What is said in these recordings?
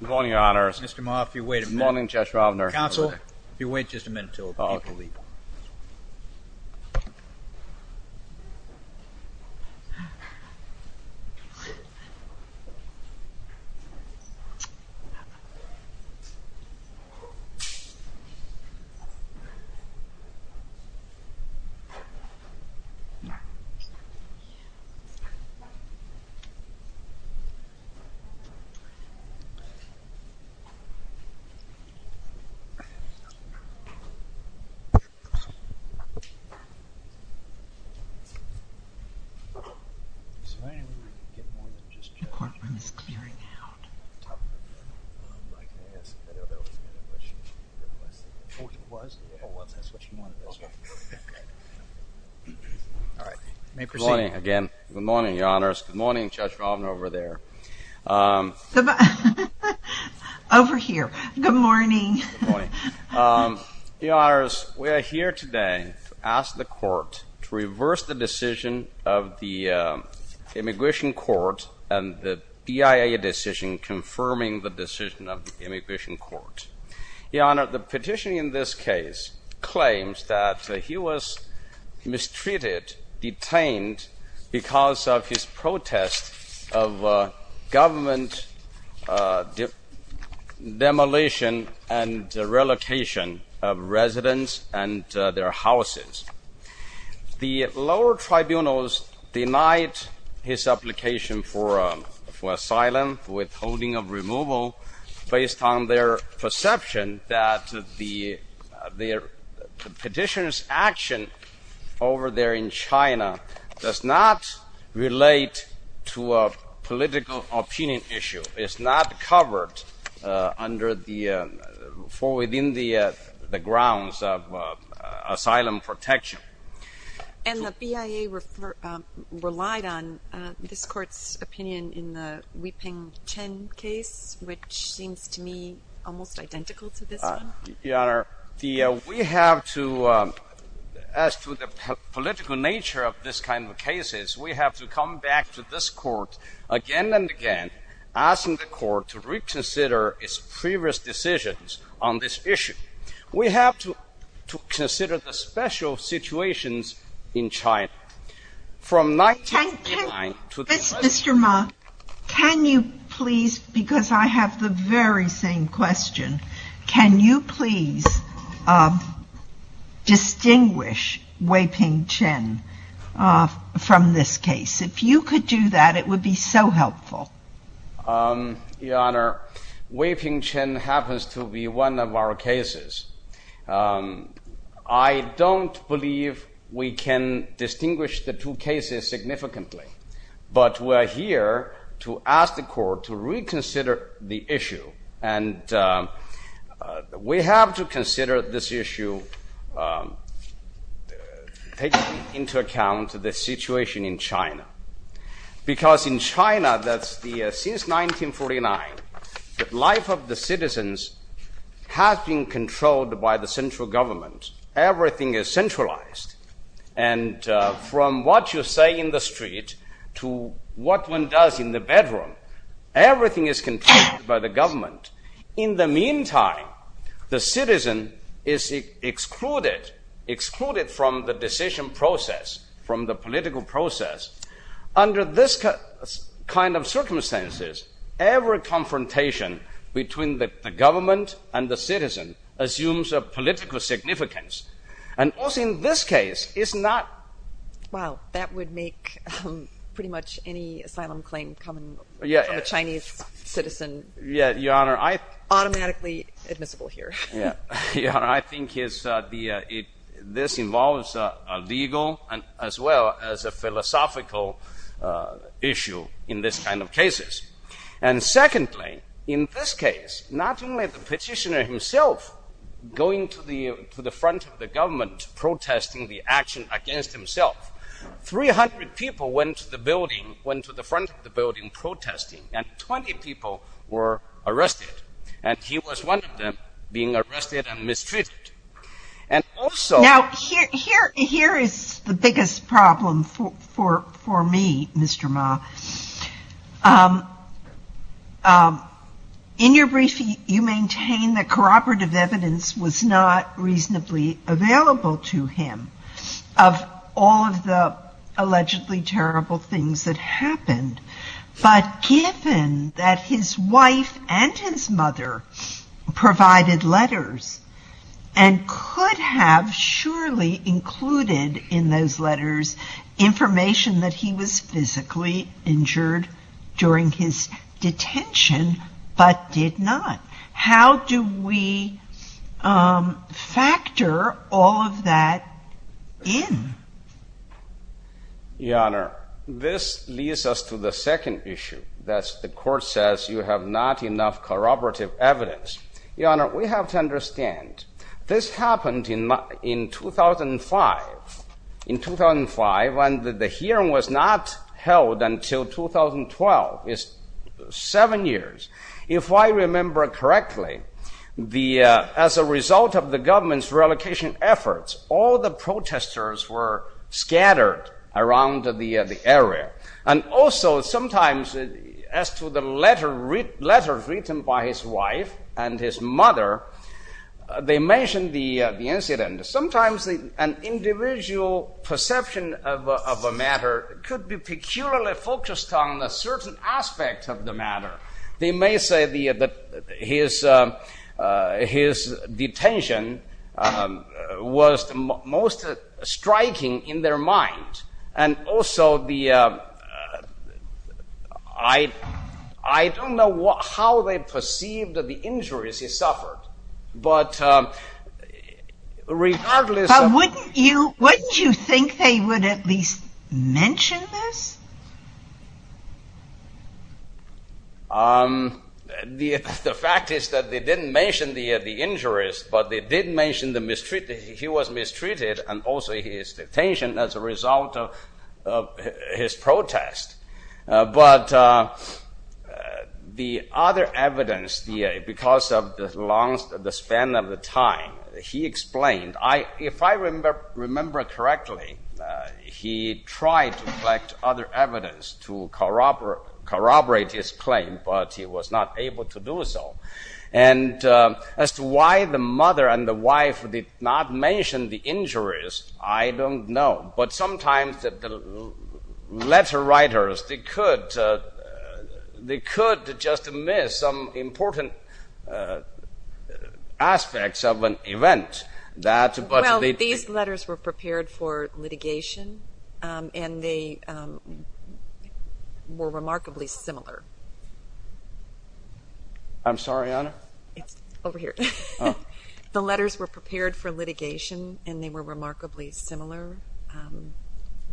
Good morning, Your Honors. Mr. Ma, if you would wait a minute. Good morning, Judge Ravner. Counsel, if you would wait just a minute until the people leave. Counsel, if you would wait just a minute until the people leave. Good morning, Your Honors. Good morning, Judge Ravner over there. Over here. Good morning. Good morning. Your Honors, we are here today to ask the Court to reverse the decision of the Immigration Court and the BIA decision confirming the decision of the Immigration Court. Your Honor, the petition in this case claims that he was mistreated, detained because of his protest of government demolition and relocation of residents and their houses. The lower tribunals denied his application for asylum, withholding of removal, based on their perception that the petitioner's action over there in China does not relate to a political opinion issue. It's not covered for within the grounds of asylum protection. And the BIA relied on this Court's opinion in the Weipeng Chen case, which seems to me almost identical to this one? Your Honor, we have to, as to the political nature of this kind of cases, we have to come back to this Court again and again, asking the Court to reconsider its previous decisions on this issue. We have to consider the special situations in China. Can you please, because I have the very same question, can you please distinguish Weipeng Chen from this case? If you could do that, it would be so helpful. Your Honor, Weipeng Chen happens to be one of our cases. I don't believe we can distinguish the two cases significantly. But we are here to ask the Court to reconsider the issue. And we have to consider this issue, taking into account the situation in China. Because in China, since 1949, the life of the citizens has been controlled by the central government. Everything is centralized. And from what you say in the street to what one does in the bedroom, everything is controlled by the government. In the meantime, the citizen is excluded, excluded from the decision process, from the Under this kind of circumstances, every confrontation between the government and the citizen assumes a political significance. And also in this case, it's not Wow, that would make pretty much any asylum claim coming from a Chinese citizen automatically admissible here. I think this involves a legal as well as a philosophical issue in this kind of cases. And secondly, in this case, not only the petitioner himself going to the front of the government protesting the action against himself, 300 people went to the front of the building protesting and 20 people were arrested. And he was one of them being arrested and mistreated. And also Now, here is the biggest problem for me, Mr. Ma. In your brief, you maintain that cooperative evidence was not reasonably available to him of all of the allegedly terrible things that happened. But given that his wife and his mother provided letters and could have surely included in those letters information that he was physically injured during his detention, but did not. How do we factor all of that in? Your Honor, this leads us to the second issue. That's the court says you have not enough corroborative evidence. Your Honor, we have to understand this happened in 2005. In 2005, when the hearing was not held until 2012, is seven years. If I remember correctly, as a result of the government's relocation efforts, all the protesters were scattered around the area. And also sometimes as to the letters written by his wife and his mother, they mentioned the incident. Sometimes an individual perception of a matter could be peculiarly focused on a certain aspect of the matter. They may say that his detention was the most striking in their mind. And also, I don't know how they perceived the injuries he suffered. But wouldn't you think they would at least mention this? The fact is that they didn't mention the injuries, but they did mention he was mistreated and also his detention as a result of his protest. But the other evidence, because of the span of the time, he explained. If I remember correctly, he tried to collect other evidence to corroborate his claim, but he was not able to do so. And as to why the mother and the wife did not mention the injuries, I don't know. But sometimes the letter writers, they could just miss some important aspects of an event. Well, these letters were prepared for litigation, and they were remarkably similar. I'm sorry, Honor? Over here. The letters were prepared for litigation, and they were remarkably similar.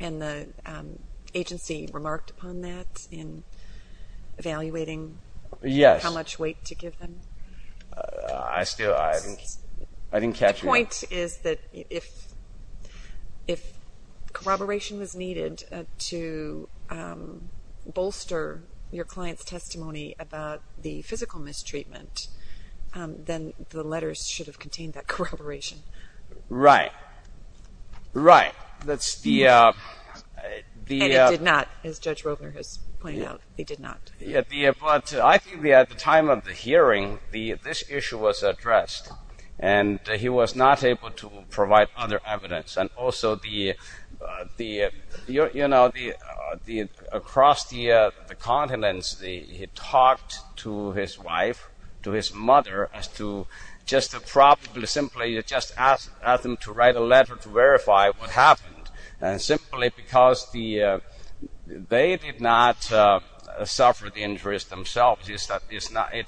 And the agency remarked upon that in evaluating how much weight to give them? I still, I didn't catch it. The point is that if corroboration was needed to bolster your client's testimony about the physical mistreatment, then the letters should have contained that corroboration. Right. Right. And it did not, as Judge Roebner has pointed out. It did not. But I think at the time of the hearing, this issue was addressed, and he was not able to provide other evidence. And also, you know, across the continents, he talked to his wife, to his mother, as to just probably simply just ask them to write a letter to verify what happened. And simply because they did not suffer the injuries themselves. It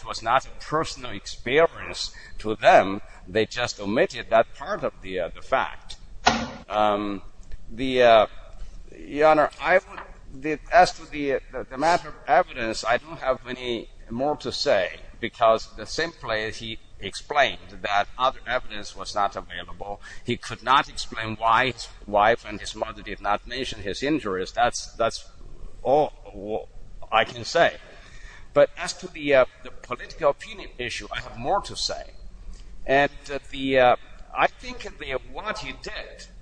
was not a personal experience to them. They just omitted that part of the fact. Your Honor, as to the matter of evidence, I don't have any more to say. Because simply he explained that other evidence was not available. He could not explain why his wife and his mother did not mention his injuries. That's all I can say. But as to the political opinion issue, I have more to say. And I think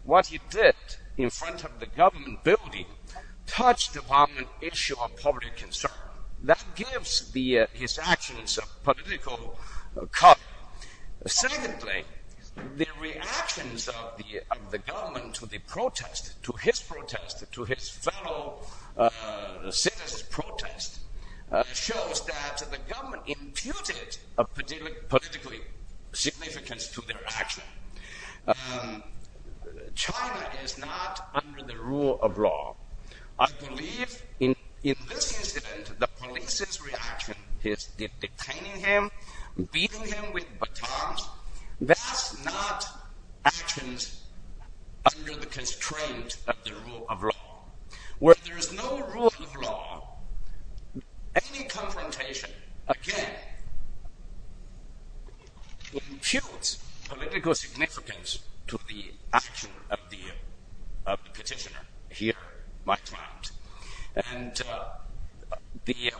what he did in front of the government building touched upon an issue of public concern. That gives his actions political color. Secondly, the reactions of the government to the protest, to his protest, to his fellow citizens' protest, shows that the government imputed a political significance to their action. China is not under the rule of law. I believe in this incident, the police's reaction is detaining him, beating him with batons. That's not actions under the constraint of the rule of law. Where there is no rule of law, any confrontation, again, imputes political significance to the action of the petitioner here, Mike Trout. And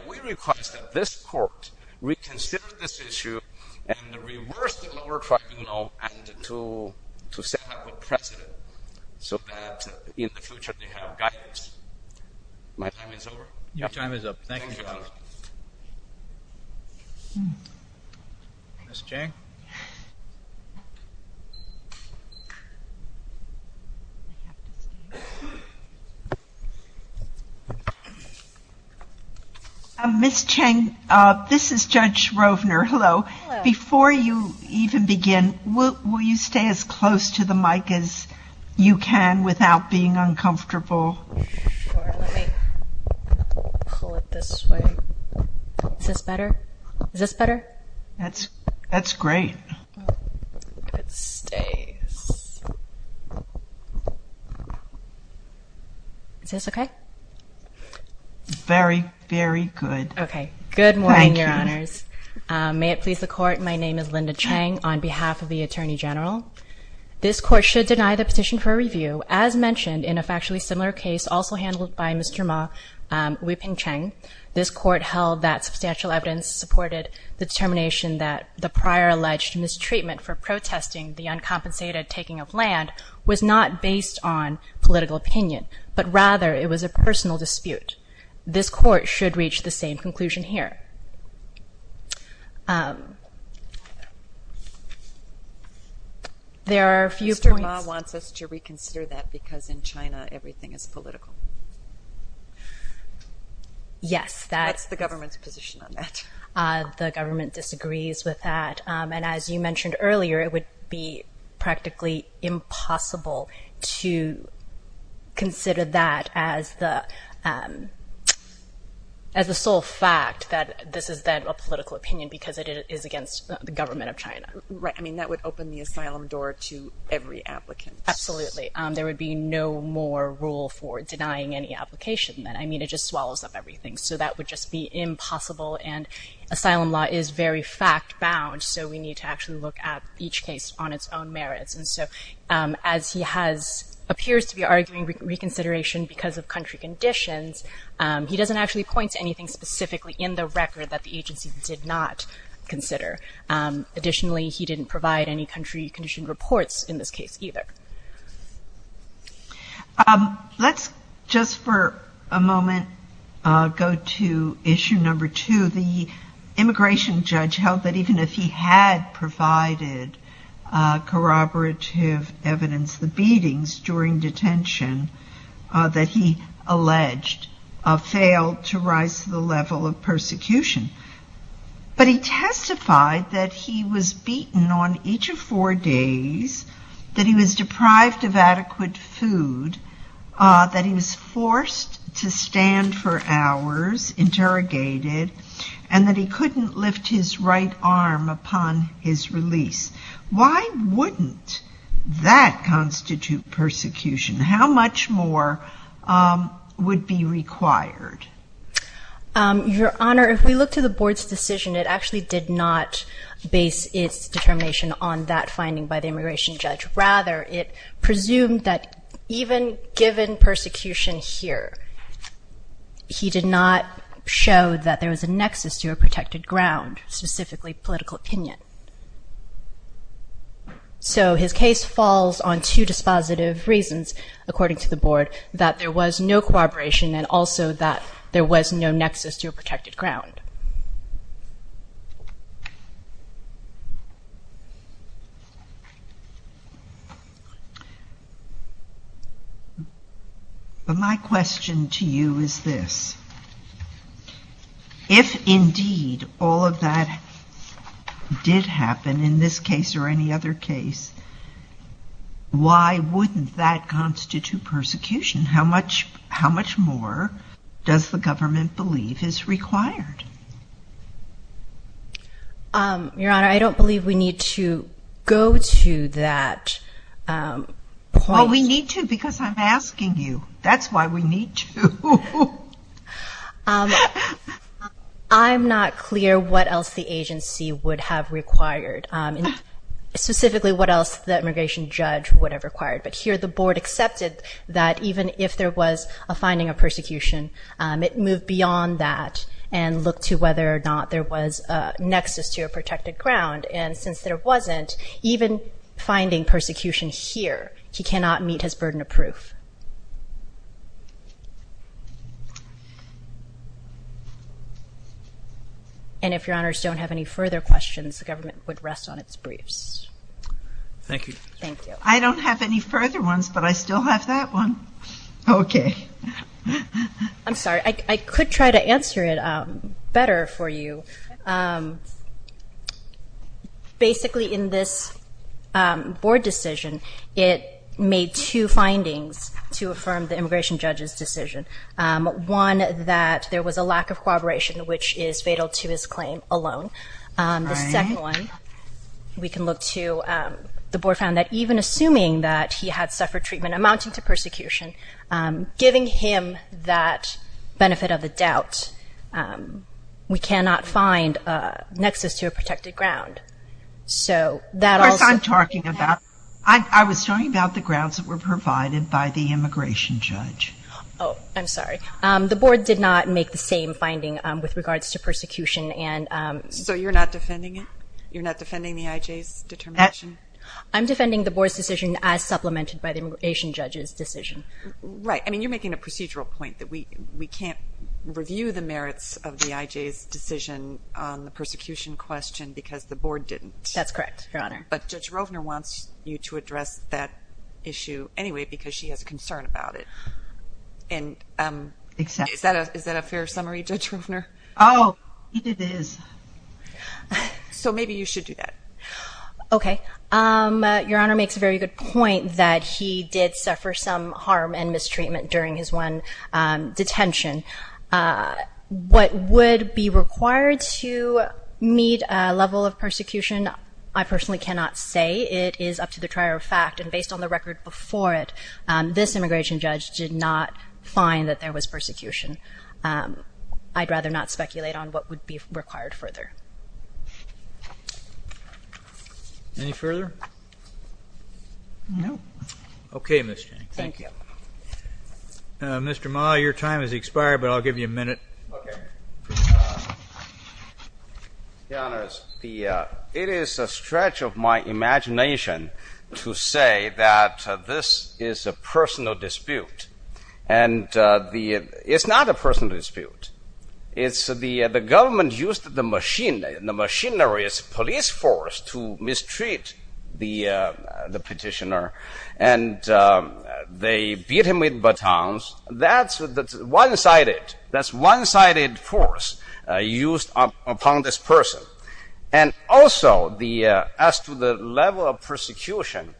we request that this court reconsider this issue and reverse the lower tribunal and to set up a precedent so that in the future they have guidance. My time is over. Your time is up. Thank you, Your Honor. Ms. Cheng? Ms. Cheng, this is Judge Rovner. Hello. Hello. Before you even begin, will you stay as close to the mic as you can without being uncomfortable? Sure. Let me pull it this way. Is this better? Is this better? That's great. If it stays. Is this okay? Very, very good. Okay. Good morning, Your Honors. Thank you. May it please the court, my name is Linda Cheng on behalf of the Attorney General. This court should deny the petition for review as mentioned in a factually similar case also handled by Mr. Ma, Weeping Cheng. This court held that substantial evidence supported the determination that the prior alleged mistreatment for protesting the uncompensated taking of land was not based on political opinion, but rather it was a personal dispute. This court should reach the same conclusion here. Mr. Ma wants us to reconsider that because in China everything is political. Yes. That's the government's position on that. The government disagrees with that. As you mentioned earlier, it would be practically impossible to consider that as the sole fact that this is then a political opinion because it is against the government of China. Right. That would open the asylum door to every applicant. Absolutely. There would be no more rule for denying any application. It just swallows up everything. That would just be impossible. Asylum law is very fact bound, so we need to actually look at each case on its own merits. As he appears to be arguing reconsideration because of country conditions, he doesn't actually point to anything specifically in the record that the agency did not consider. Additionally, he didn't provide any country condition reports in this case either. Let's just for a moment go to issue number two. The immigration judge held that even if he had provided corroborative evidence, the beatings during detention that he alleged failed to rise to the level of persecution. But he testified that he was beaten on each of four days, that he was deprived of adequate food, that he was forced to stand for hours interrogated, and that he couldn't lift his right arm upon his release. Why wouldn't that constitute persecution? How much more would be required? Your Honor, if we look to the board's decision, it actually did not base its determination on that finding by the immigration judge. Rather, it presumed that even given persecution here, he did not show that there was a nexus to a protected ground, specifically political opinion. So his case falls on two dispositive reasons, according to the board, that there was no corroboration and also that there was no nexus to a protected ground. But my question to you is this. If indeed all of that did happen in this case or any other case, why wouldn't that constitute persecution? How much more does the government believe is required? Your Honor, I don't believe we need to go to that point. Well, we need to because I'm asking you. That's why we need to. I'm not clear what else the agency would have required, specifically what else the immigration judge would have required. But here the board accepted that even if there was a finding of persecution, it moved beyond that and looked to whether or not there was a nexus to a protected ground. And since there wasn't, even finding persecution here, he cannot meet his burden of proof. And if Your Honors don't have any further questions, the government would rest on its briefs. Thank you. I don't have any further ones, but I still have that one. Okay. I'm sorry. I could try to answer it better for you. Basically, in this board decision, it made two findings to affirm the immigration judge's decision. One, that there was a lack of corroboration, which is fatal to his claim alone. The second one, we can look to, the board found that even assuming that he had suffered treatment amounting to persecution, giving him that benefit of the doubt, we cannot find a nexus to a protected ground. Of course, I'm talking about, I was talking about the grounds that were provided by the immigration judge. Oh, I'm sorry. The board did not make the same finding with regards to persecution. So you're not defending it? You're not defending the IJ's determination? I'm defending the board's decision as supplemented by the immigration judge's decision. Right. I mean, you're making a procedural point that we can't review the merits of the IJ's decision on the persecution question because the board didn't. That's correct, Your Honor. But Judge Rovner wants you to address that issue anyway because she has a concern about it. Exactly. Is that a fair summary, Judge Rovner? Oh, it is. So maybe you should do that. Okay. Your Honor makes a very good point that he did suffer some harm and mistreatment during his one detention. What would be required to meet a level of persecution, I personally cannot say. It is up to the trier of fact. And based on the record before it, this immigration judge did not find that there was persecution. I'd rather not speculate on what would be required further. Any further? No. Okay, Mr. Yang. Thank you. Mr. Ma, your time has expired, but I'll give you a minute. Okay. Your Honor, it is a stretch of my imagination to say that this is a personal dispute. And it's not a personal dispute. It's the government used the machinery, the machinerist police force to mistreat the petitioner. And they beat him with batons. That's one-sided. That's one-sided force used upon this person. And also, as to the level of persecution,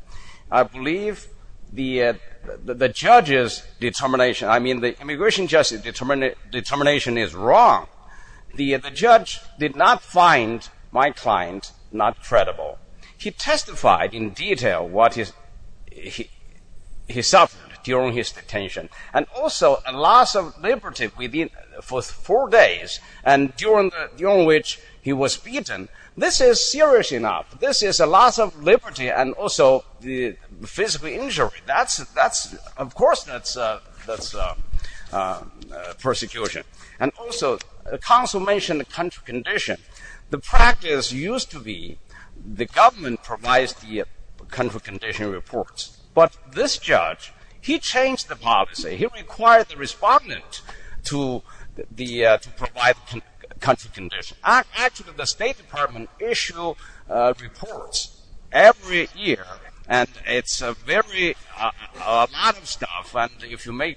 I believe the judge's determination, I mean the immigration judge's determination is wrong. The judge did not find my client not trespassing. He testified in detail what he suffered during his detention. And also, a loss of liberty for four days during which he was beaten. This is serious enough. This is a loss of liberty and also physical injury. That's, of course, persecution. And also, the counsel mentioned the country condition. The practice used to be the government provides the country condition reports. But this judge, he changed the policy. He required the respondent to provide the country condition. Actually, the State Department issue reports every year. And it's a lot of stuff. Usually, the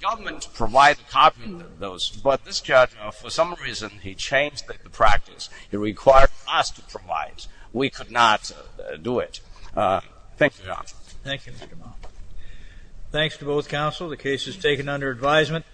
government provides a copy of those. But this judge, for some reason, he changed the practice. He required us to provide. We could not do it. Thank you. Thanks to both counsel. The case is taken under advisement.